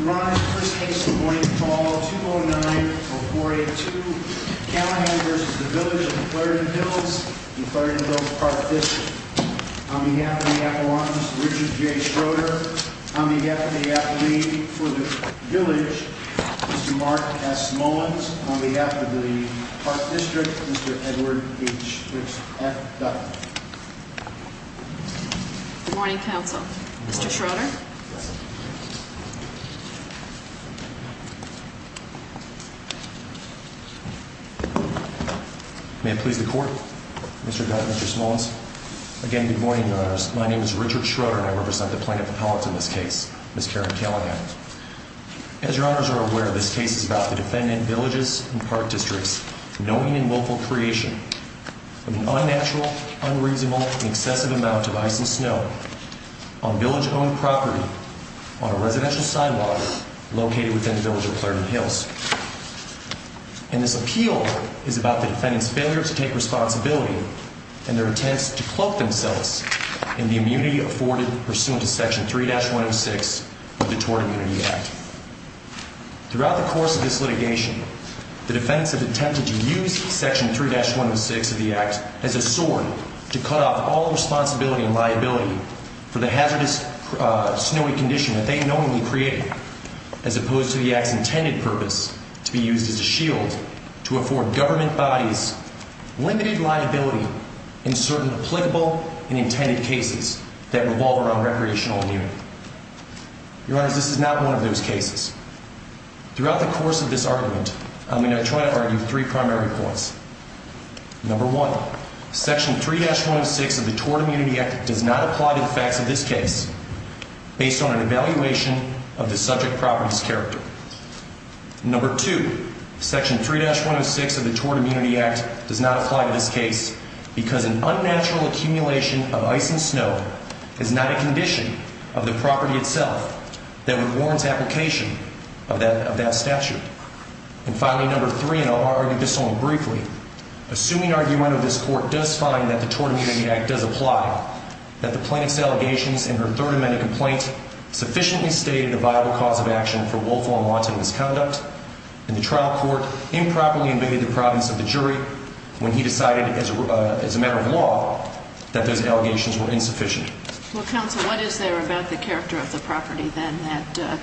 Your Honor, the first case of the morning is call 2090482 Callaghan v. Village of Clarendon Hills in Clarendon Hills Park District. On behalf of the Appalachians, Richard J. Schroeder. On behalf of the Appalachian for the village, Mr. Mark S. Mullins. On behalf of the Park District, Mr. Edward H. F. Dutton. Good morning, counsel. Mr. Schroeder. May it please the court. Mr. Dutton, Mr. Mullins. Again, good morning, Your Honors. My name is Richard Schroeder and I represent the plaintiff appellate in this case, Ms. Karen Callaghan. As Your Honors are aware, this case is about the defendant, Villages and Park Districts, knowing and willful creation of an unnatural, unreasonable, and excessive amount of ice and snow on village-owned property on a residential sidewalk located within the Village of Clarendon Hills. And this appeal is about the defendant's failure to take responsibility and their attempts to cloak themselves in the immunity afforded pursuant to Section 3-106 of the Tort Immunity Act. Throughout the course of this litigation, the defendants have attempted to use Section 3-106 of the Act as a sword to cut off all responsibility and liability for the hazardous snowy condition that they knowingly created, as opposed to the Act's intended purpose to be used as a shield to afford government bodies limited liability in certain applicable and intended cases that revolve around recreational immunity. Your Honors, this is not one of those cases. Throughout the course of this argument, I'm going to try to argue three primary points. Number one, Section 3-106 of the Tort Immunity Act does not apply to the facts of this case based on an evaluation of the subject property's character. Number two, Section 3-106 of the Tort Immunity Act does not apply to this case because an unnatural accumulation of ice and snow is not a condition of the property itself that would warrant application of that statute. And finally, number three, and I'll argue this only briefly, assuming argument of this Court does find that the Tort Immunity Act does apply, that the plaintiff's allegations in her Third Amendment complaint sufficiently stated a viable cause of action for willful and wanton misconduct, and the trial court improperly invaded the province of the jury when he decided as a matter of law that those allegations were insufficient. Well, Counsel, what is there about the character of the property then that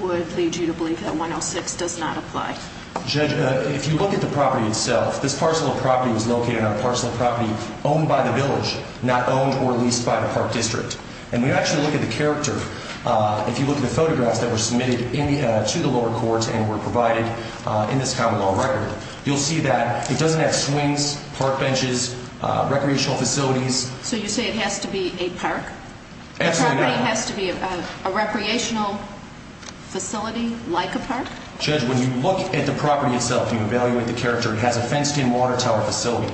would lead you to believe that 106 does not apply? Judge, if you look at the property itself, this parcel of property was located on a parcel of property owned by the village, not owned or leased by the Park District. And when you actually look at the character, if you look at the photographs that were submitted to the lower courts and were provided in this common law record, you'll see that it doesn't have swings, park benches, recreational facilities. So you say it has to be a park? Absolutely not. The property has to be a recreational facility like a park? Judge, when you look at the property itself and you evaluate the character, it has a fenced-in water tower facility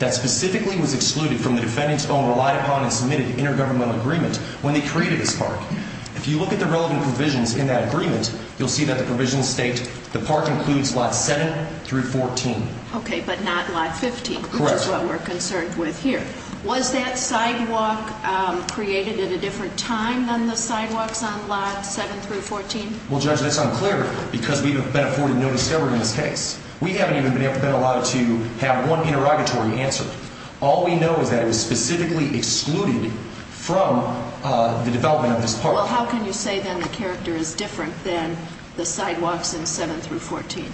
that specifically was excluded from the defendant's own relied-upon and submitted intergovernmental agreement when they created this park. If you look at the relevant provisions in that agreement, you'll see that the provisions state the park includes lot 7 through 14. Okay, but not lot 15, which is what we're concerned with here. Was that sidewalk created at a different time than the sidewalks on lot 7 through 14? Well, Judge, that's unclear because we have been afforded no discovery in this case. We haven't even been allowed to have one interrogatory answer. All we know is that it was specifically excluded from the development of this park. Well, how can you say, then, the character is different than the sidewalks in 7 through 14?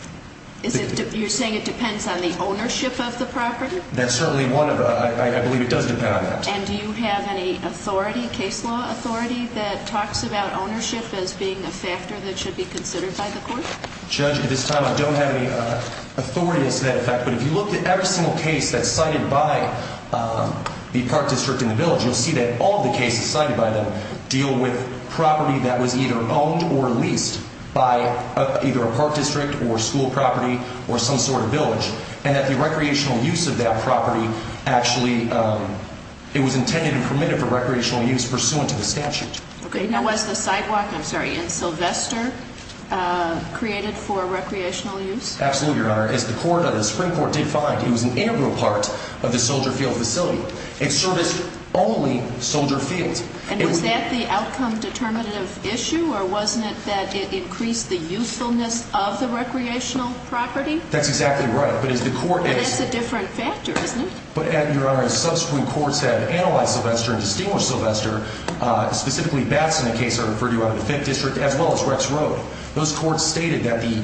You're saying it depends on the ownership of the property? That's certainly one of the – I believe it does depend on that. And do you have any authority, case law authority, that talks about ownership as being a factor that should be considered by the court? Judge, at this time, I don't have any authority as to that effect, but if you look at every single case that's cited by the park district and the village, you'll see that all of the cases cited by them deal with property that was either owned or leased by either a park district or school property or some sort of village, and that the recreational use of that property actually – it was intended and permitted for recreational use pursuant to the statute. Okay. Now, was the sidewalk in Sylvester created for recreational use? Absolutely, Your Honor. As the Supreme Court did find, it was an integral part of the Soldier Field facility. It serviced only Soldier Fields. And was that the outcome-determinative issue, or wasn't it that it increased the usefulness of the recreational property? That's exactly right. But as the court – And that's a different factor, isn't it? But, Your Honor, as subsequent courts have analyzed Sylvester and distinguished Sylvester, specifically Batson, a case I referred to out of the Fifth District, as well as Rex Road, those courts stated that the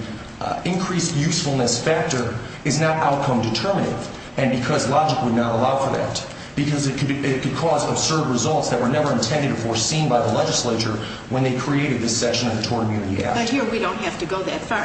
increased usefulness factor is not outcome-determinative, and because logic would not allow for that, because it could cause absurd results that were never intended or foreseen by the legislature when they created this section of the Tort Immunity Act. But here we don't have to go that far.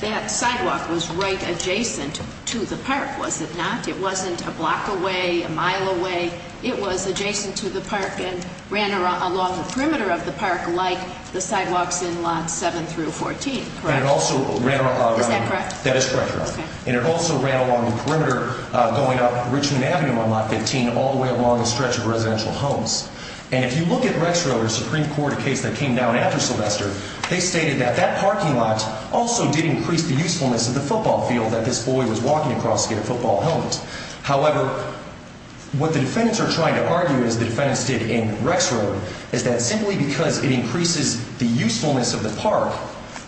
That sidewalk was right adjacent to the park, was it not? It wasn't a block away, a mile away. It was adjacent to the park and ran along the perimeter of the park like the sidewalks in Lots 7 through 14, correct? And it also ran along – Is that correct? That is correct, Your Honor. And it also ran along the perimeter going up Richmond Avenue on Lot 15 all the way along the stretch of residential homes. And if you look at Rex Road, a Supreme Court case that came down after Sylvester, they stated that that parking lot also did increase the usefulness of the football field that this boy was walking across to get a football helmet. However, what the defendants are trying to argue, as the defendants did in Rex Road, is that simply because it increases the usefulness of the park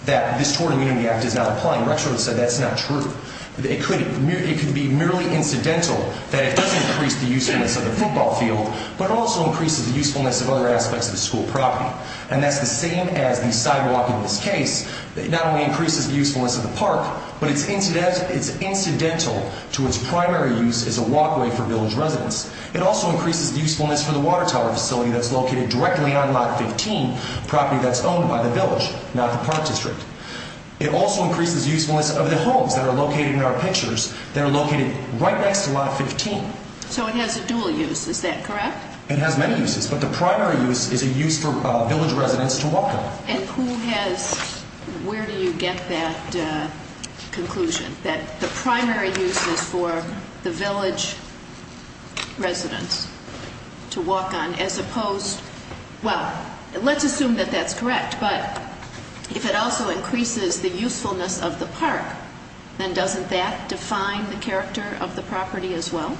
that this Tort Immunity Act is not applying. Rex Road said that's not true. It could be merely incidental that it does increase the usefulness of the football field, but it also increases the usefulness of other aspects of the school property. And that's the same as the sidewalk in this case. It not only increases the usefulness of the park, but it's incidental to its primary use as a walkway for village residents. It also increases the usefulness for the water tower facility that's located directly on Lot 15, a property that's owned by the village, not the park district. It also increases the usefulness of the homes that are located in our pictures that are located right next to Lot 15. So it has a dual use, is that correct? It has many uses, but the primary use is a use for village residents to walk on. And who has, where do you get that conclusion, that the primary use is for the village residents to walk on, as opposed, well, let's assume that that's correct, but if it also increases the usefulness of the park, then doesn't that define the character of the property as well?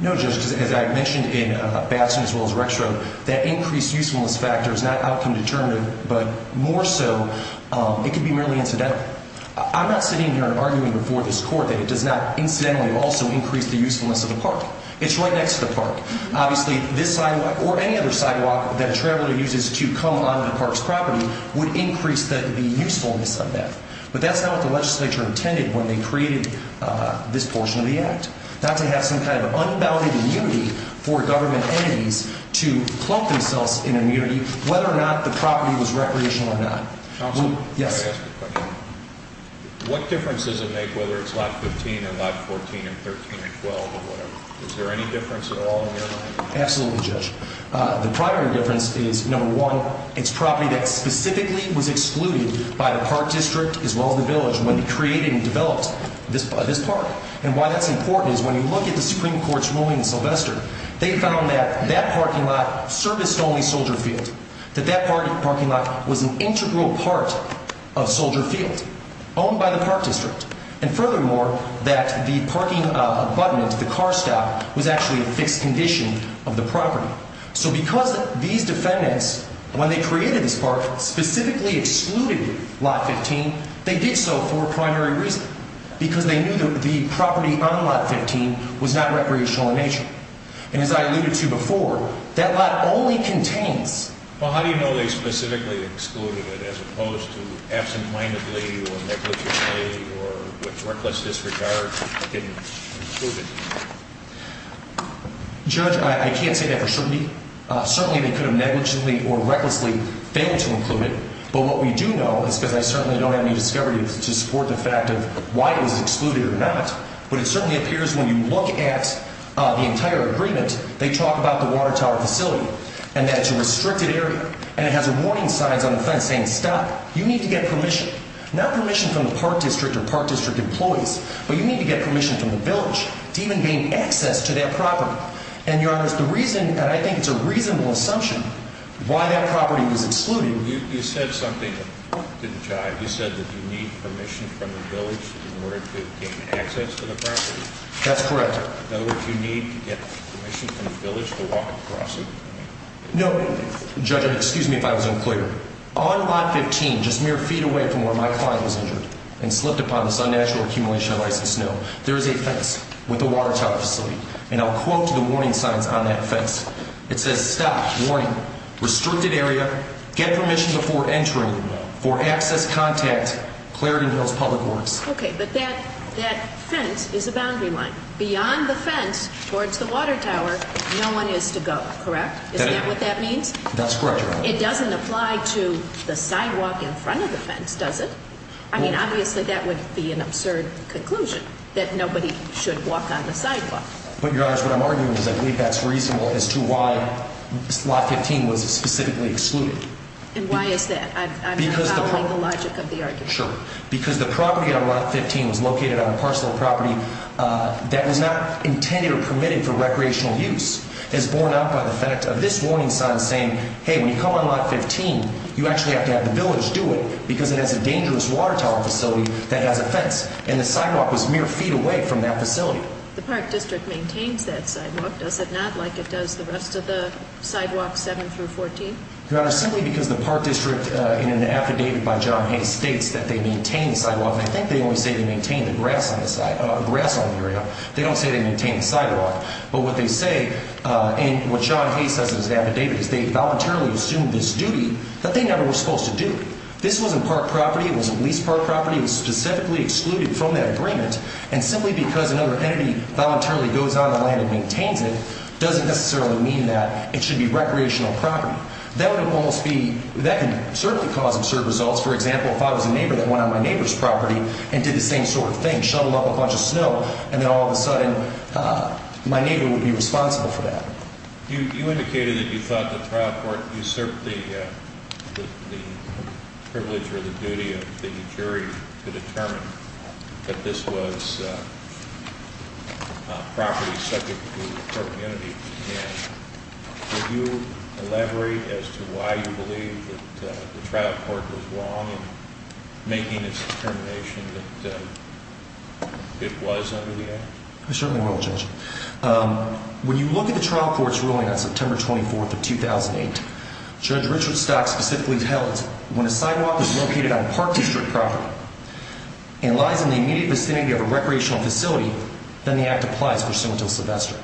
No, Judge, because as I mentioned in Batson as well as Rexroth, that increased usefulness factor is not outcome determinative, but more so it could be merely incidental. I'm not sitting here and arguing before this Court that it does not incidentally also increase the usefulness of the park. It's right next to the park. Obviously, this sidewalk or any other sidewalk that a traveler uses to come onto the park's property would increase the usefulness of that. But that's not what the legislature intended when they created this portion of the Act, not to have some kind of unbounded immunity for government entities to clump themselves in immunity, whether or not the property was recreational or not. Counselor, may I ask a question? What difference does it make whether it's Lot 15 and Lot 14 and 13 and 12 or whatever? Is there any difference at all? Absolutely, Judge. The primary difference is, number one, it's property that specifically was excluded by the park district as well as the village when they created and developed this park. And why that's important is when you look at the Supreme Court's ruling in Sylvester, they found that that parking lot serviced only Soldier Field, that that parking lot was an integral part of Soldier Field, owned by the park district. And furthermore, that the parking abutment, the car stop, was actually a fixed condition of the property. So because these defendants, when they created this park, specifically excluded Lot 15, they did so for a primary reason, because they knew that the property on Lot 15 was not recreational in nature. And as I alluded to before, that lot only contains... or was reckless disregard of getting included. Judge, I can't say that for certainty. Certainly they could have negligently or recklessly failed to include it. But what we do know is, because I certainly don't have any discovery to support the fact of why it was excluded or not, but it certainly appears when you look at the entire agreement, they talk about the water tower facility and that it's a restricted area and it has warning signs on the fence saying, stop, you need to get permission. Not permission from the park district or park district employees, but you need to get permission from the village to even gain access to that property. And, Your Honor, the reason, and I think it's a reasonable assumption, why that property was excluded... You said something to the judge. You said that you need permission from the village in order to gain access to the property. That's correct. In other words, you need to get permission from the village to walk across it? No, Judge, excuse me if I was unclear. On lot 15, just mere feet away from where my client was injured and slipped upon this unnatural accumulation of ice and snow, there is a fence with a water tower facility, and I'll quote the warning signs on that fence. It says, stop, warning, restricted area, get permission before entering for access, contact, Clarendon Hills Public Works. Okay, but that fence is a boundary line. Beyond the fence towards the water tower, no one is to go, correct? Is that what that means? That's correct, Your Honor. It doesn't apply to the sidewalk in front of the fence, does it? I mean, obviously that would be an absurd conclusion, that nobody should walk on the sidewalk. But, Your Honor, what I'm arguing is I believe that's reasonable as to why lot 15 was specifically excluded. And why is that? I'm not following the logic of the argument. Because the property on lot 15 was located on a parcel of property that was not intended or permitted for recreational use. It's borne out by the fact of this warning sign saying, hey, when you come on lot 15, you actually have to have the village do it, because it has a dangerous water tower facility that has a fence. And the sidewalk was mere feet away from that facility. The Park District maintains that sidewalk, does it not, like it does the rest of the sidewalks 7 through 14? Your Honor, simply because the Park District, in an affidavit by John Hayes, states that they maintain the sidewalk. And I think they only say they maintain the grass on the area. They don't say they maintain the sidewalk. But what they say, and what John Hayes says in his affidavit, is they voluntarily assumed this duty that they never were supposed to do. This wasn't park property. It wasn't leased park property. It was specifically excluded from that agreement. And simply because another entity voluntarily goes on the land and maintains it doesn't necessarily mean that it should be recreational property. That would almost be, that can certainly cause absurd results. For example, if I was a neighbor that went on my neighbor's property and did the same sort of thing, and shoveled up a bunch of snow, and then all of a sudden my neighbor would be responsible for that. You indicated that you thought the trial court usurped the privilege or the duty of the jury to determine that this was property subject to property entity. Would you elaborate as to why you believe that the trial court was wrong in making its determination that it was under the act? I certainly will, Judge. When you look at the trial court's ruling on September 24th of 2008, Judge Richard Stock specifically tells us when a sidewalk is located on park district property and lies in the immediate vicinity of a recreational facility, then the act applies for single-till silvester.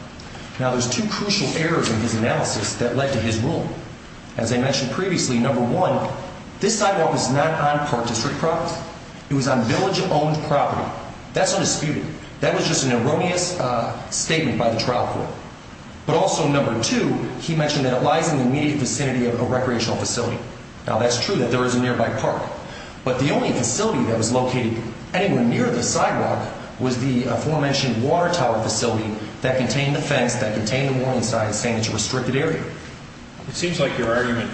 Now, there's two crucial errors in his analysis that led to his ruling. As I mentioned previously, number one, this sidewalk was not on park district property. It was on village-owned property. That's undisputed. That was just an erroneous statement by the trial court. But also, number two, he mentioned that it lies in the immediate vicinity of a recreational facility. Now, that's true that there is a nearby park. But the only facility that was located anywhere near the sidewalk was the aforementioned water tower facility that contained the fence, that contained the warning sign, saying it's a restricted area. It seems like your argument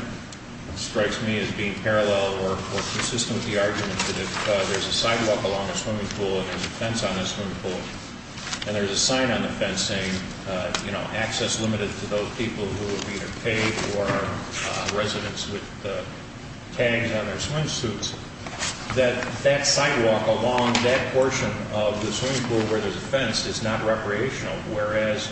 strikes me as being parallel or consistent with the argument that if there's a sidewalk along a swimming pool and there's a fence on the swimming pool and there's a sign on the fence saying, you know, access limited to those people who would be either paid or residents with tags on their swimsuits, that that sidewalk along that portion of the swimming pool where there's a fence is not recreational, whereas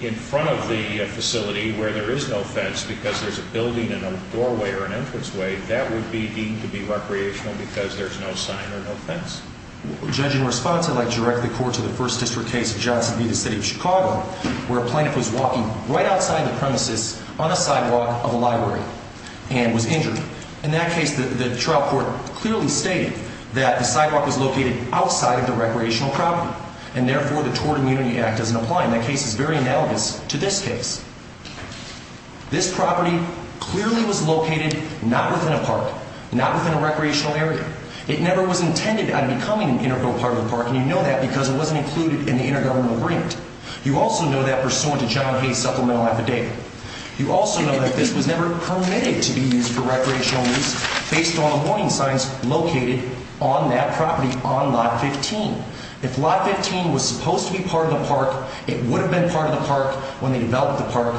in front of the facility where there is no fence because there's a building and a doorway or an entranceway, that would be deemed to be recreational because there's no sign or no fence. Judge, in response, I'd like to direct the court to the first district case of Johnson v. the City of Chicago where a plaintiff was walking right outside the premises on a sidewalk of a library and was injured. In that case, the trial court clearly stated that the sidewalk was located outside of the recreational property and therefore the Tort Immunity Act doesn't apply. And that case is very analogous to this case. This property clearly was located not within a park, not within a recreational area. It never was intended on becoming an integral part of the park, and you know that because it wasn't included in the intergovernmental agreement. You also know that pursuant to John Hay's supplemental affidavit. You also know that this was never permitted to be used for recreational use based on the warning signs located on that property on lot 15. If lot 15 was supposed to be part of the park, it would have been part of the park when they developed the park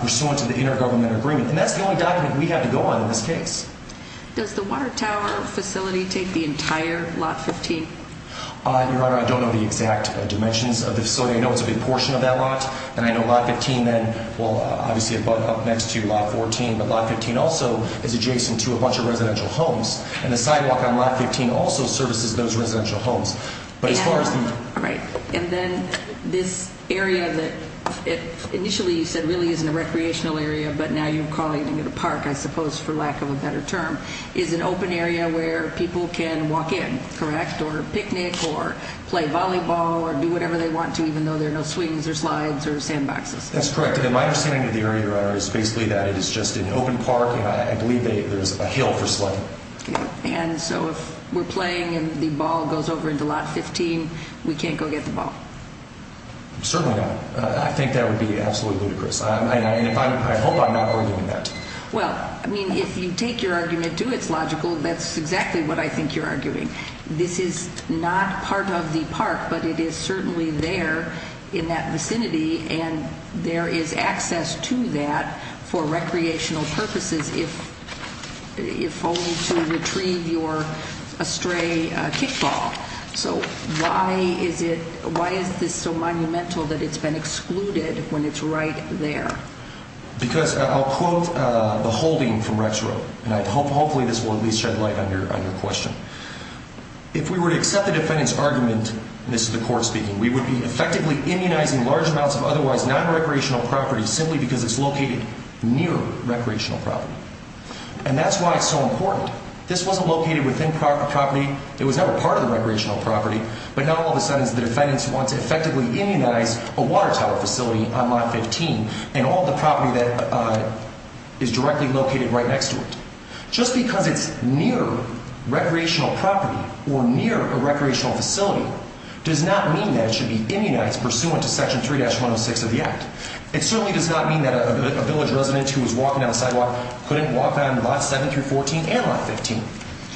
pursuant to the intergovernmental agreement. And that's the only document we have to go on in this case. Does the Water Tower facility take the entire lot 15? Your Honor, I don't know the exact dimensions of the facility. I know it's a big portion of that lot, and I know lot 15 then, well, obviously up next to lot 14, but lot 15 also is adjacent to a bunch of residential homes, and the sidewalk on lot 15 also services those residential homes. And then this area that initially you said really isn't a recreational area, but now you're calling it a park, I suppose, for lack of a better term, is an open area where people can walk in, correct, or picnic or play volleyball or do whatever they want to even though there are no swings or slides or sandboxes. That's correct, and my understanding of the area, Your Honor, is basically that it is just an open park, and I believe there's a hill for sliding. And so if we're playing and the ball goes over into lot 15, we can't go get the ball? Certainly not. I think that would be absolutely ludicrous. I hope I'm not arguing that. Well, I mean, if you take your argument to its logical, that's exactly what I think you're arguing. This is not part of the park, but it is certainly there in that vicinity, and there is access to that for recreational purposes if only to retrieve your astray kickball. So why is this so monumental that it's been excluded when it's right there? Because I'll quote the holding from Rex Rowe, and hopefully this will at least shed light on your question. If we were to accept the defendant's argument, and this is the court speaking, we would be effectively immunizing large amounts of otherwise nonrecreational property simply because it's located near recreational property. And that's why it's so important. This wasn't located within property. It was never part of the recreational property. But now all of a sudden it's the defendant's who wants to effectively immunize a water tower facility on lot 15 and all the property that is directly located right next to it. Just because it's near recreational property or near a recreational facility does not mean that it should be immunized pursuant to Section 3-106 of the Act. It certainly does not mean that a village resident who was walking down the sidewalk couldn't walk down lot 7-14 and lot 15,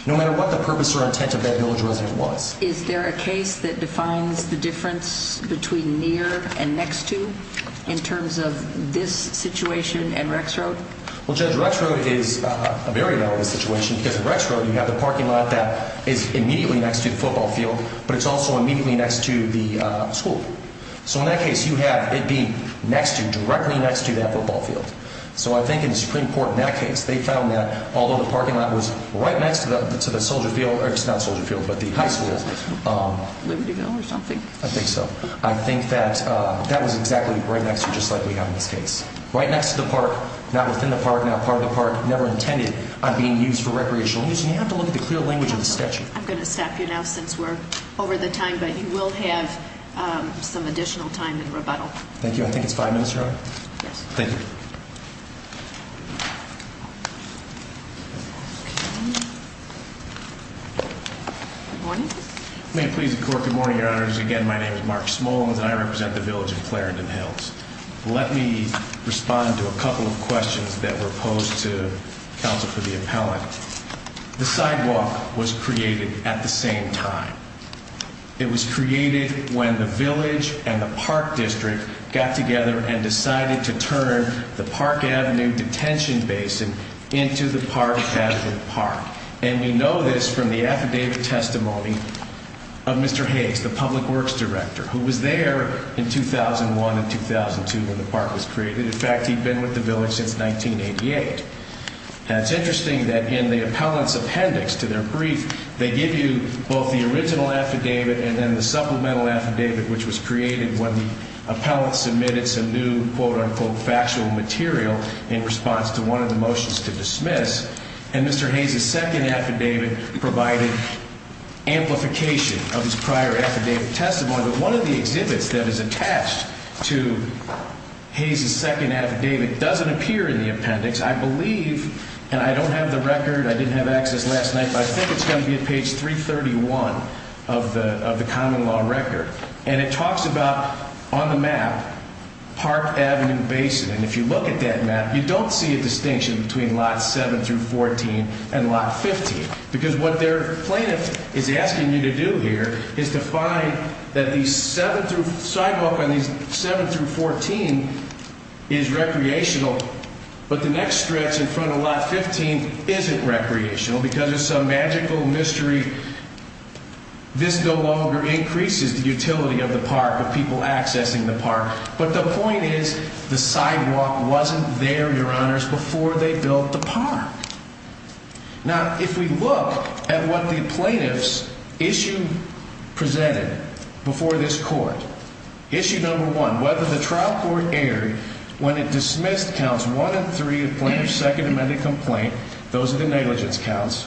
no matter what the purpose or intent of that village resident was. Is there a case that defines the difference between near and next to in terms of this situation and Rex Rowe? Well, Judge, Rex Rowe is a very valid situation because at Rex Rowe you have the parking lot that is immediately next to the football field, but it's also immediately next to the school. So in that case you have it being next to, directly next to that football field. So I think in the Supreme Court in that case they found that although the parking lot was right next to the Soldier Field, or it's not Soldier Field, but the high school. Libertyville or something? I think so. I think that that was exactly right next to it, just like we have in this case. Right next to the park, not within the park, not part of the park, never intended on being used for recreational use. And you have to look at the clear language of the statute. I'm going to stop you now since we're over the time, but you will have some additional time in rebuttal. Thank you. I think it's five minutes, Your Honor. Thank you. Good morning. May it please the Court, good morning, Your Honors. Again, my name is Mark Smolens and I represent the village of Clarendon Hills. Let me respond to a couple of questions that were posed to counsel for the appellant. The sidewalk was created at the same time. It was created when the village and the park district got together and decided to turn the Park Avenue detention basin into the Park Avenue Park. And we know this from the affidavit testimony of Mr. Hayes, the public works director, who was there in 2001 and 2002 when the park was created. In fact, he'd been with the village since 1988. And it's interesting that in the appellant's appendix to their brief, they give you both the original affidavit and then the supplemental affidavit, which was created when the appellant submitted some new quote-unquote factual material in response to one of the motions to dismiss. And Mr. Hayes' second affidavit provided amplification of his prior affidavit testimony. But one of the exhibits that is attached to Hayes' second affidavit doesn't appear in the appendix. I believe, and I don't have the record, I didn't have access last night, but I think it's going to be at page 331 of the common law record. And it talks about, on the map, Park Avenue Basin. And if you look at that map, you don't see a distinction between lots 7 through 14 and lot 15 because what their plaintiff is asking you to do here is to find that these 7 through 14 is recreational, but the next stretch in front of lot 15 isn't recreational because of some magical mystery. This no longer increases the utility of the park, of people accessing the park. But the point is the sidewalk wasn't there, Your Honors, before they built the park. Now, if we look at what the plaintiff's issue presented before this court, issue number one, whether the trial court erred when it dismissed counts one and three of the plaintiff's second amended complaint, those are the negligence counts,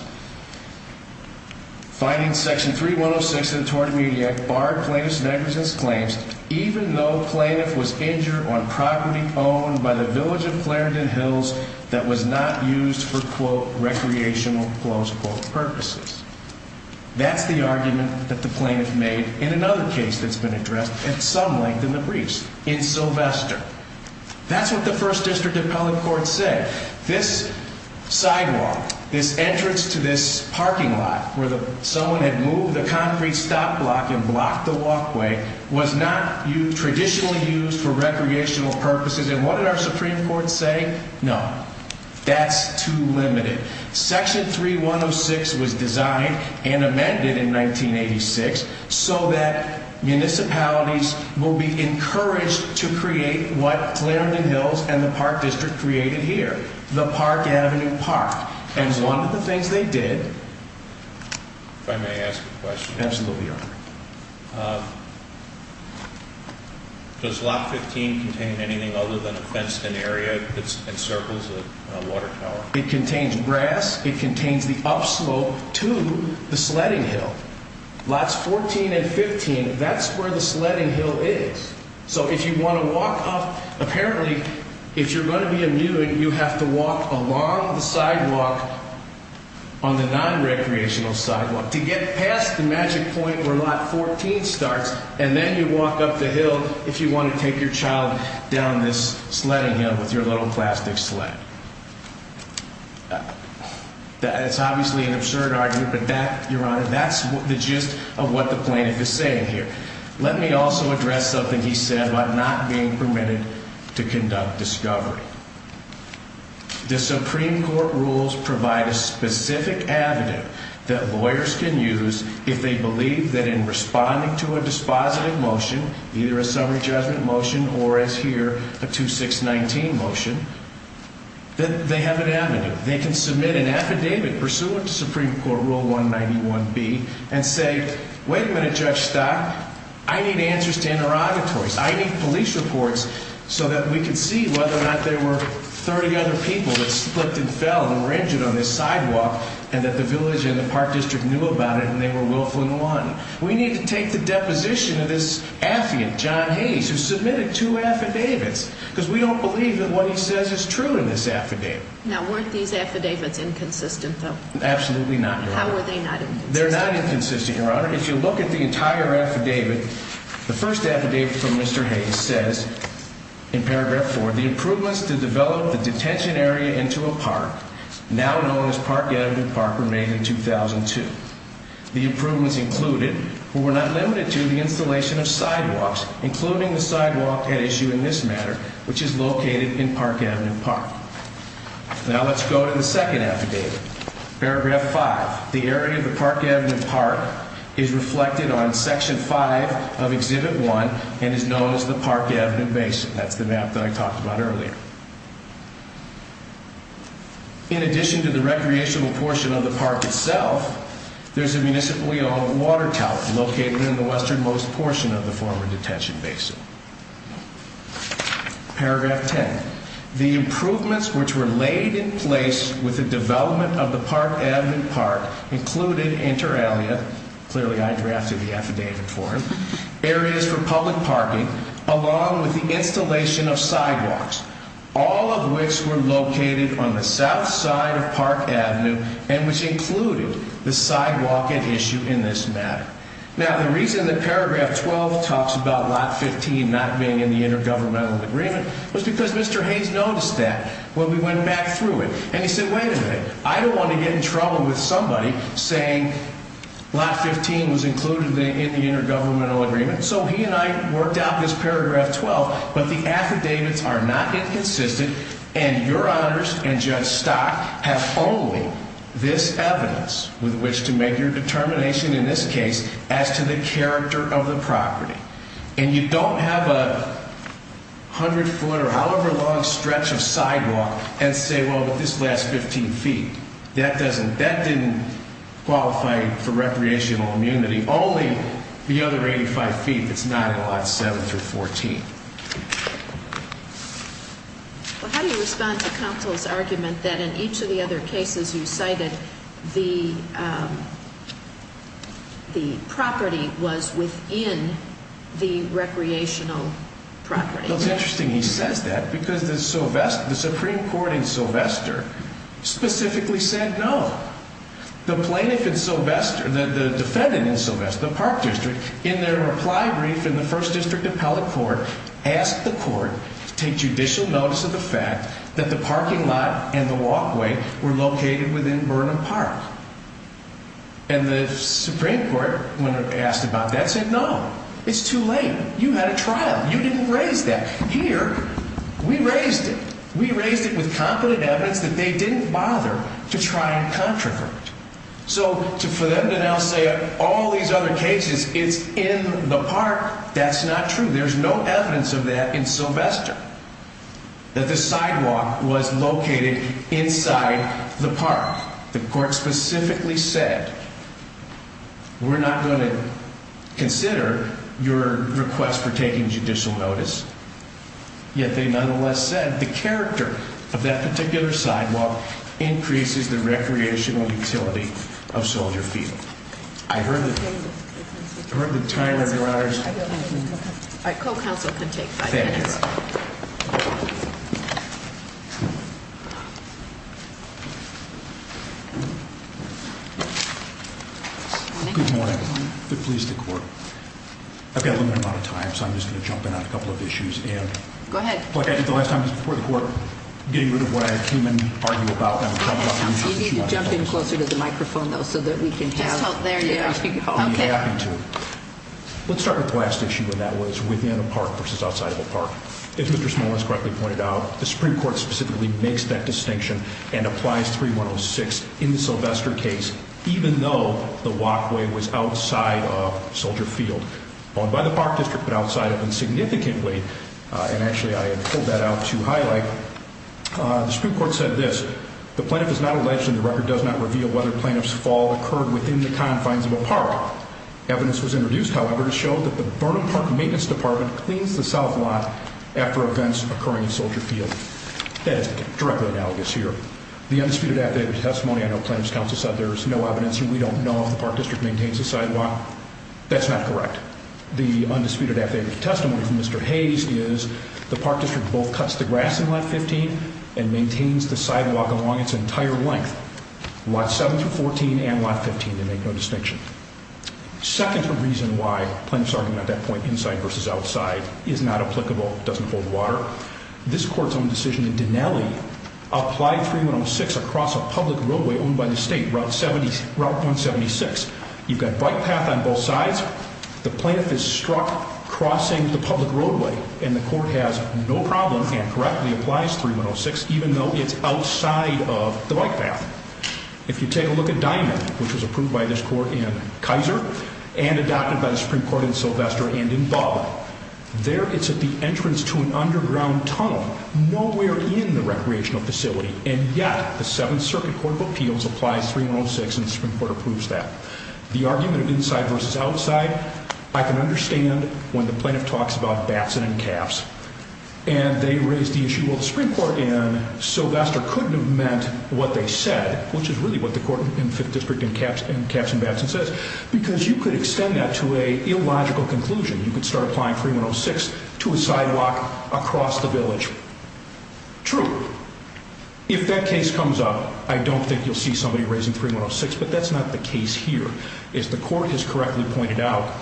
finding section 3106 of the tort media barred plaintiff's negligence claims even though the plaintiff was injured on property owned by the village of Clarendon Hills that was not used for, quote, recreational, close quote, purposes. That's the argument that the plaintiff made in another case that's been addressed at some length in the briefs, in Sylvester. That's what the first district appellate court said. This sidewalk, this entrance to this parking lot where someone had moved a concrete stop block and blocked the walkway was not traditionally used for recreational purposes, and what did our Supreme Court say? No, that's too limited. Section 3106 was designed and amended in 1986 so that municipalities will be encouraged to create what Clarendon Hills and the park district created here, the Park Avenue Park, and one of the things they did... If I may ask a question? Absolutely. Does lot 15 contain anything other than a fenced-in area that encircles a water tower? It contains grass, it contains the upslope to the sledding hill. Lots 14 and 15, that's where the sledding hill is. So if you want to walk up... Apparently, if you're going to be a mute, you have to walk along the sidewalk on the nonrecreational sidewalk to get past the magic point where lot 14 starts, and then you walk up the hill if you want to take your child down this sledding hill with your little plastic sled. It's obviously an absurd argument, but that, Your Honor, that's the gist of what the plaintiff is saying here. Let me also address something he said about not being permitted to conduct discovery. The Supreme Court rules provide a specific avenue that lawyers can use if they believe that in responding to a dispositive motion, either a summary judgment motion or, as here, a 2619 motion, that they have an avenue. They can submit an affidavit pursuant to Supreme Court Rule 191B and say, Wait a minute, Judge Stock. I need answers to interrogatories. I need police reports so that we can see whether or not there were 30 other people that slipped and fell and were injured on this sidewalk and that the village and the park district knew about it and they were willful and won. We need to take the deposition of this affiant John Hayes who submitted two affidavits because we don't believe that what he says is true in this affidavit. Now, weren't these affidavits inconsistent, though? Absolutely not, Your Honor. How were they not inconsistent? They're not inconsistent, Your Honor. If you look at the entire affidavit, the first affidavit from Mr. Hayes says, in paragraph 4, The improvements to develop the detention area into a park, now known as Park Avenue Park, were made in 2002. The improvements included, but were not limited to, the installation of sidewalks, including the sidewalk at issue in this matter, which is located in Park Avenue Park. Now let's go to the second affidavit. Paragraph 5. The area of the Park Avenue Park is reflected on Section 5 of Exhibit 1 and is known as the Park Avenue Basin. That's the map that I talked about earlier. In addition to the recreational portion of the park itself, there's a municipally owned water tower located in the westernmost portion of the former detention basin. Paragraph 10. The improvements which were laid in place with the development of the Park Avenue Park included, inter alia, clearly I drafted the affidavit for him, areas for public parking, along with the installation of sidewalks, all of which were located on the south side of Park Avenue and which included the sidewalk at issue in this matter. Now the reason that Paragraph 12 talks about Lot 15 not being in the intergovernmental agreement was because Mr. Haynes noticed that when we went back through it. And he said, wait a minute, I don't want to get in trouble with somebody saying Lot 15 was included in the intergovernmental agreement. So he and I worked out this Paragraph 12, but the affidavits are not inconsistent and your honors and Judge Stock have only this evidence with which to make your determination in this case as to the character of the property. And you don't have a hundred foot or however long stretch of sidewalk and say, well, but this last 15 feet. That doesn't, that didn't qualify for recreational immunity. Only the other 85 feet that's not in Lot 7 through 14. Well, how do you respond to counsel's argument that in each of the other cases you cited, the property was within the recreational property? Well, it's interesting he says that because the Supreme Court in Sylvester specifically said no. The plaintiff in Sylvester, the defendant in Sylvester, the park district, in their reply brief in the first district appellate court, asked the court to take judicial notice of the fact that the parking lot and the walkway were located within Burnham Park. And the Supreme Court, when asked about that, said no. It's too late. You had a trial. You didn't raise that. Here, we raised it. We raised it with competent evidence that they didn't bother to try and contravert. So for them to now say all these other cases, it's in the park, that's not true. There's no evidence of that in Sylvester. That the sidewalk was located inside the park. The court specifically said, we're not going to consider your request for taking judicial notice. Yet they nonetheless said the character of that particular sidewalk increases the recreational utility of Soldier Field. I heard the time, Your Honors. All right, co-counsel can take five minutes. Thank you. Good morning. Good morning. Good morning. Good morning. Good morning. Go ahead. You need to jump in closer to the microphone, though, so that we can have... There you are. Okay. Let's start with the last issue, and that was within a park versus outside of a park. As Mr. Smollins correctly pointed out, the Supreme Court specifically makes that distinction and applies 3106 in the Sylvester case, even though the walkway was outside of Soldier Field. Not only by the park district, but outside of it significantly. And actually, I have pulled that out to highlight. The Supreme Court said this. The plaintiff is not alleged and the record does not reveal whether plaintiff's fall occurred within the confines of a park. Evidence was introduced, however, to show that the Burnham Park Maintenance Department cleans the south lot after events occurring in Soldier Field. That is directly analogous here. The undisputed affidavit testimony, I know plaintiff's counsel said there is no evidence and we don't know if the park district maintains the sidewalk. That's not correct. The undisputed affidavit testimony from Mr. Hayes is the park district both cuts the grass in Lot 15 and maintains the sidewalk along its entire length. Lot 7 through 14 and Lot 15, they make no distinction. Second reason why plaintiff's argument at that point, inside versus outside, is not applicable, doesn't hold water, this court's own decision in Dinelli applied 3106 across a public roadway owned by the state, Route 176. You've got bike path on both sides. The plaintiff is struck crossing the public roadway and the court has no problem and correctly applies 3106 even though it's outside of the bike path. If you take a look at Dinelli, which was approved by this court in Kaiser and adopted by the Supreme Court in Sylvester and in Butler, there it's at the entrance to an underground tunnel nowhere in the recreational facility and yet the Seventh Circuit Court of Appeals applies 3106 and the Supreme Court approves that. The argument of inside versus outside, I can understand when the plaintiff talks about Batson and Capps and they raise the issue, well, the Supreme Court in Sylvester couldn't have meant what they said, which is really what the court in Fifth District in Capps and Batson says, because you could extend that to an illogical conclusion. You could start applying 3106 to a sidewalk across the village. True, if that case comes up, I don't think you'll see somebody raising 3106, but that's not the case here. As the court has correctly pointed out,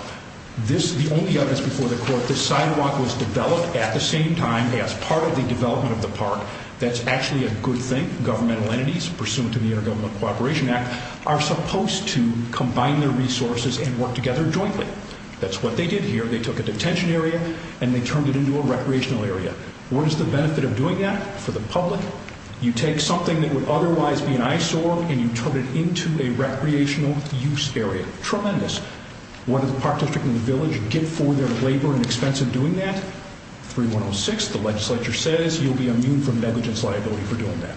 the only evidence before the court, the sidewalk was developed at the same time as part of the development of the park. That's actually a good thing. Governmental entities, pursuant to the Intergovernmental Cooperation Act, are supposed to combine their resources and work together jointly. That's what they did here. They took a detention area and they turned it into a recreational area. What is the benefit of doing that for the public? You take something that would otherwise be an eyesore and you turn it into a recreational use area. Tremendous. What did the Park District and the village get for their labor and expense of doing that? 3106, the legislature says, you'll be immune from negligence liability for doing that.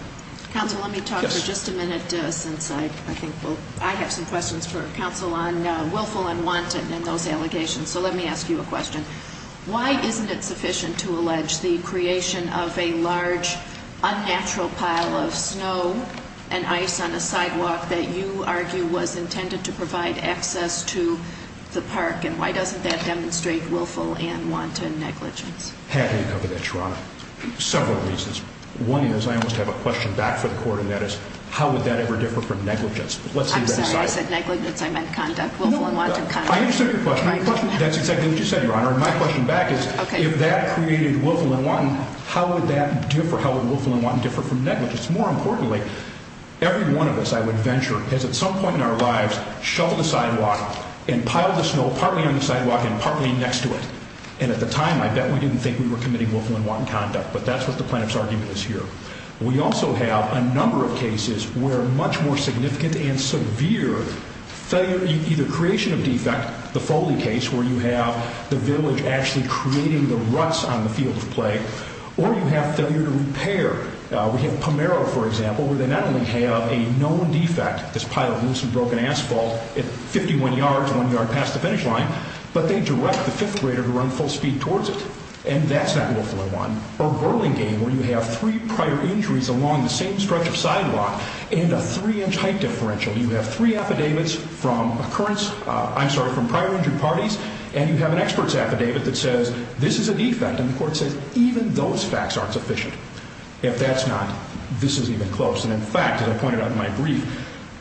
Counsel, let me talk for just a minute, since I think I have some questions for counsel on willful and wanton and those allegations. So let me ask you a question. Why isn't it sufficient to allege the creation of a large, unnatural pile of snow and ice on a sidewalk that you argue was intended to provide access to the park, and why doesn't that demonstrate willful and wanton negligence? Happy to cover that, Your Honor, for several reasons. One is, I almost have a question back for the court, and that is, how would that ever differ from negligence? I'm sorry, I said negligence. I meant conduct, willful and wanton conduct. I understand your question. That's exactly what you said, Your Honor, and my question back is, if that created willful and wanton, how would that differ? How would willful and wanton differ from negligence? More importantly, every one of us, I would venture, has at some point in our lives shoveled a sidewalk and piled the snow partly on the sidewalk and partly next to it. And at the time, I bet we didn't think we were committing willful and wanton conduct, but that's what the plaintiff's argument is here. We also have a number of cases where much more significant and severe failure, either creation of defect, the Foley case where you have the village actually creating the ruts on the field of play, or you have failure to repair. We have Pomeroy, for example, where they not only have a known defect, this pile of loose and broken asphalt, 51 yards, one yard past the finish line, but they direct the fifth grader to run full speed towards it, and that's not willful and wanton. Or Burlingame, where you have three prior injuries along the same stretch of sidewalk and a three-inch height differential. You have three affidavits from prior injury parties, and you have an expert's affidavit that says this is a defect, and the court says even those facts aren't sufficient. If that's not, this isn't even close. And in fact, as I pointed out in my brief,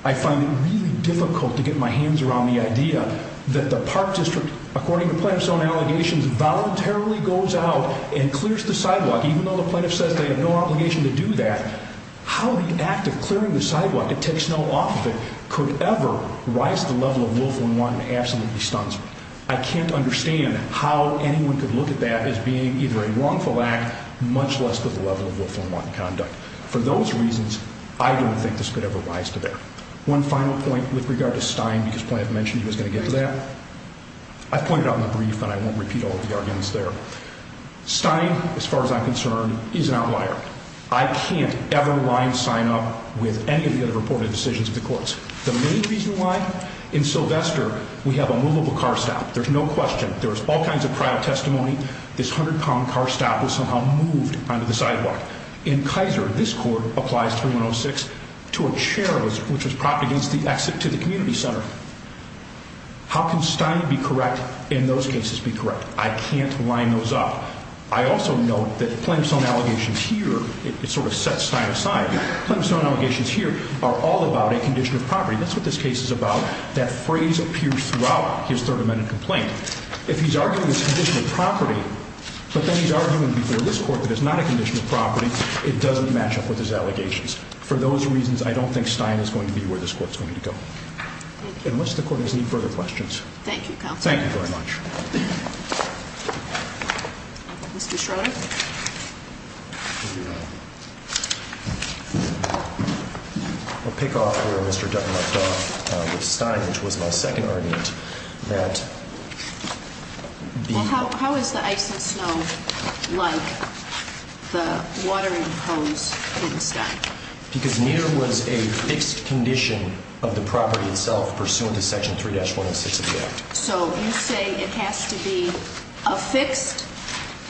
I find it really difficult to get my hands around the idea that the park district, according to plaintiff's own allegations, voluntarily goes out and clears the sidewalk, even though the plaintiff says they have no obligation to do that. How the act of clearing the sidewalk, it takes no off of it, could ever rise to the level of willful and wanton absolutely stuns me. I can't understand how anyone could look at that as being either a wrongful act, much less to the level of willful and wanton conduct. For those reasons, I don't think this could ever rise to that. One final point with regard to Stein, because plaintiff mentioned he was going to get to that. I've pointed out in the brief, and I won't repeat all of the arguments there. Stein, as far as I'm concerned, is an outlier. I can't ever line Stein up with any of the other reported decisions of the courts. The main reason why, in Sylvester, we have a moveable car stop. There's no question. There's all kinds of prior testimony. This 100-pound car stop was somehow moved onto the sidewalk. In Kaiser, this court applies 3106 to a chair which was propped against the exit to the community center. How can Stein be correct in those cases be correct? I can't line those up. I also note that plaintiff's own allegations here, it sort of sets Stein aside. Plaintiff's own allegations here are all about a condition of property. That's what this case is about. That phrase appears throughout his Third Amendment complaint. If he's arguing it's a condition of property, but then he's arguing before this Court that it's not a condition of property, it doesn't match up with his allegations. For those reasons, I don't think Stein is going to be where this Court is going to go. Unless the Court has any further questions. Thank you, counsel. Thank you very much. Mr. Schroeder? I'll pick off where Mr. Dutton left off with Stein, which was my second argument. How is the ice and snow like the watering hose in Stein? Because near was a fixed condition of the property itself pursuant to Section 3-106 of the Act. So you say it has to be affixed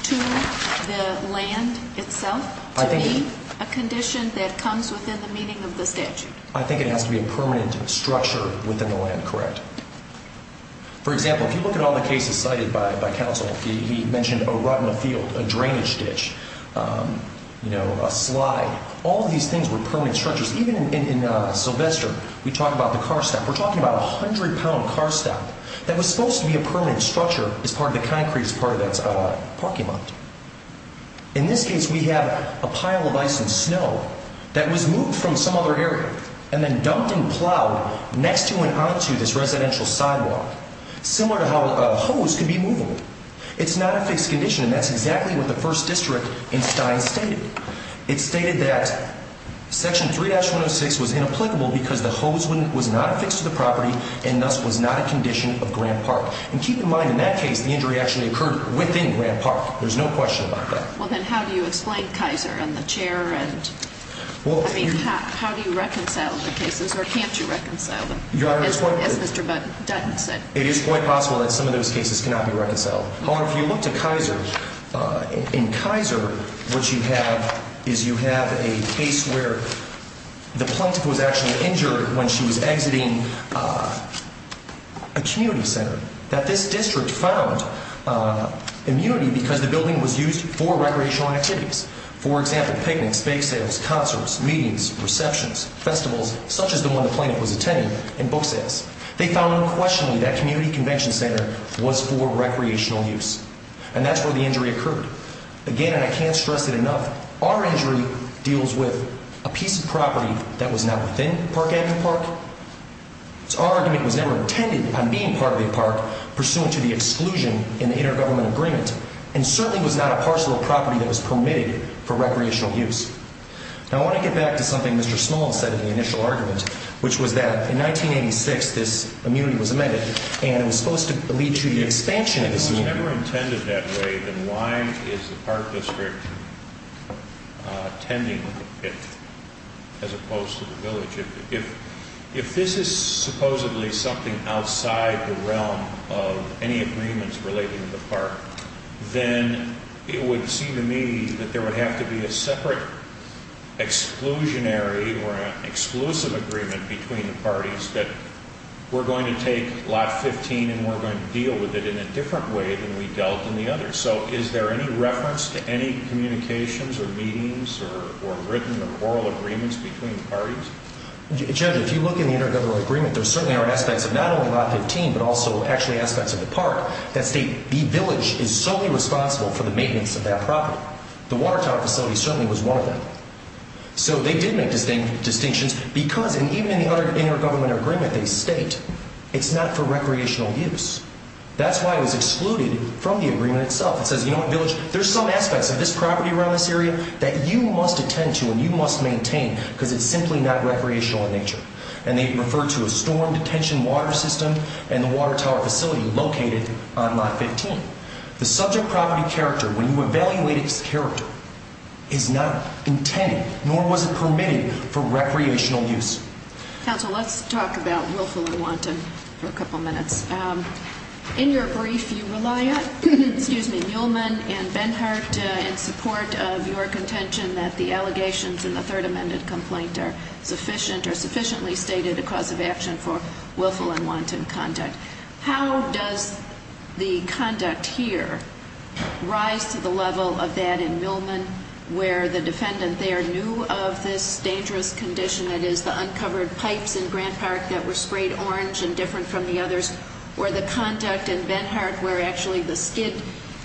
to the land itself to be a condition that comes within the meaning of the statute? I think it has to be a permanent structure within the land, correct. For example, if you look at all the cases cited by counsel, he mentioned a rut in a field, a drainage ditch, a slide. All of these things were permanent structures. Even in Sylvester, we talk about the car stop. We're talking about a 100-pound car stop that was supposed to be a permanent structure as part of the concrete, as part of that parking lot. In this case, we have a pile of ice and snow that was moved from some other area and then dumped and plowed next to and onto this residential sidewalk. Similar to how a hose can be movable. It's not a fixed condition, and that's exactly what the 1st District in Stein stated. It stated that Section 3-106 was inapplicable because the hose was not affixed to the property and thus was not a condition of Grant Park. And keep in mind, in that case, the injury actually occurred within Grant Park. There's no question about that. Well, then how do you explain Kaiser and the chair? I mean, how do you reconcile the cases, or can't you reconcile them, as Mr. Dutton said? It is quite possible that some of those cases cannot be reconciled. If you look to Kaiser, in Kaiser, what you have is you have a case where the plaintiff was actually injured when she was exiting a community center. That this district found immunity because the building was used for recreational activities. For example, picnics, bake sales, concerts, meetings, receptions, festivals, such as the one the plaintiff was attending, and book sales. They found unquestionably that community convention center was for recreational use. And that's where the injury occurred. Again, and I can't stress it enough, our injury deals with a piece of property that was not within Park Avenue Park. So our argument was never intended on being part of the park, pursuant to the exclusion in the Intergovernmental Agreement, and certainly was not a parcel of property that was permitted for recreational use. Now I want to get back to something Mr. Small said in the initial argument, which was that in 1986 this immunity was amended, and it was supposed to lead to the expansion of this immunity. If it was never intended that way, then why is the park district tending it, as opposed to the village? If this is supposedly something outside the realm of any agreements relating to the park, then it would seem to me that there would have to be a separate exclusionary or an exclusive agreement between the parties that we're going to take Lot 15 and we're going to deal with it in a different way than we dealt in the others. So is there any reference to any communications or meetings or written or oral agreements between the parties? Judge, if you look in the Intergovernmental Agreement, there certainly are aspects of not only Lot 15, but also actually aspects of the park that state the village is solely responsible for the maintenance of that property. The water tower facility certainly was one of them. So they did make distinctions because, and even in the other Intergovernmental Agreement they state, it's not for recreational use. That's why it was excluded from the agreement itself. It says, you know what, village, there's some aspects of this property around this area that you must attend to and you must maintain because it's simply not recreational in nature. And they refer to a storm detention water system and the water tower facility located on Lot 15. The subject property character, when you evaluate its character, is not intended nor was it permitted for recreational use. Counsel, let's talk about willful and wanton for a couple minutes. In your brief, you rely on, excuse me, Muehlman and Benhart in support of your contention that the allegations in the Third Amendment complaint are sufficient or sufficiently stated a cause of action for willful and wanton conduct. How does the conduct here rise to the level of that in Muehlman where the defendant there knew of this dangerous condition, that is the uncovered pipes in Grant Park that were sprayed orange and different from the others, or the conduct in Benhart where actually the skid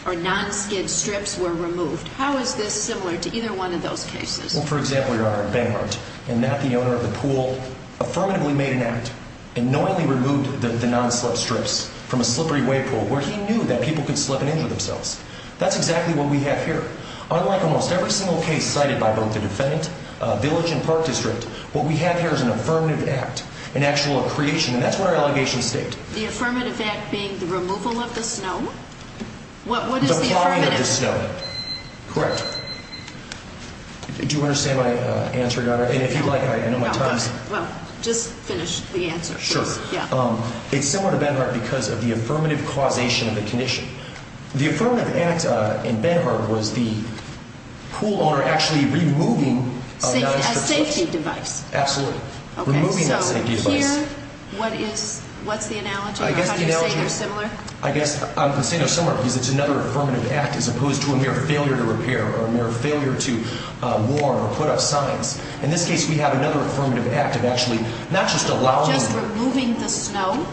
or non-skid strips were removed? How is this similar to either one of those cases? Well, for example, Your Honor, Benhart, and not the owner of the pool, affirmatively made an act and knowingly removed the non-slip strips from a slippery wave pool where he knew that people could slip and injure themselves. That's exactly what we have here. Unlike almost every single case cited by both the defendant, village, and park district, what we have here is an affirmative act, an actual creation, and that's what our allegations state. The affirmative act being the removal of the snow? The plowing of the snow. Correct. Do you understand my answer, Your Honor? And if you like, I know my time is up. Well, just finish the answer, please. Sure. It's similar to Benhart because of the affirmative causation of the condition. The affirmative act in Benhart was the pool owner actually removing a non-slip strip. A safety device. Absolutely. Removing that safety device. So here, what's the analogy? How do you say they're similar? I guess I'm saying they're similar because it's another affirmative act as opposed to a mere failure to repair or a mere failure to warm or put up signs. In this case, we have another affirmative act of actually not just allowing— Just removing the snow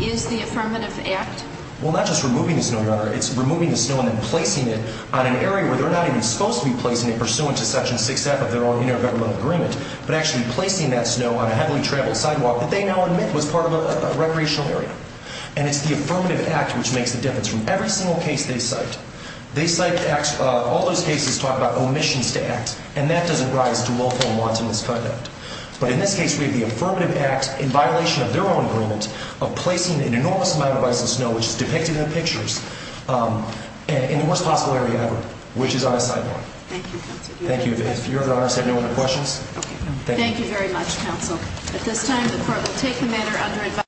is the affirmative act? Well, not just removing the snow, Your Honor. It's removing the snow and then placing it on an area where they're not even supposed to be placing it pursuant to Section 6F of their own intergovernmental agreement, but actually placing that snow on a heavily traveled sidewalk that they now admit was part of a recreational area. And it's the affirmative act which makes the difference. From every single case they cite, all those cases talk about omissions to act, and that doesn't rise to willful and wanton misconduct. But in this case, we have the affirmative act in violation of their own agreement of placing an enormous amount of ice and snow, which is depicted in the pictures, in the worst possible area ever, which is on a sidewalk. Thank you, Counsel. Thank you. If Your Honor has had no other questions? Okay. Thank you very much, Counsel. At this time, the Court will take the matter under advisory.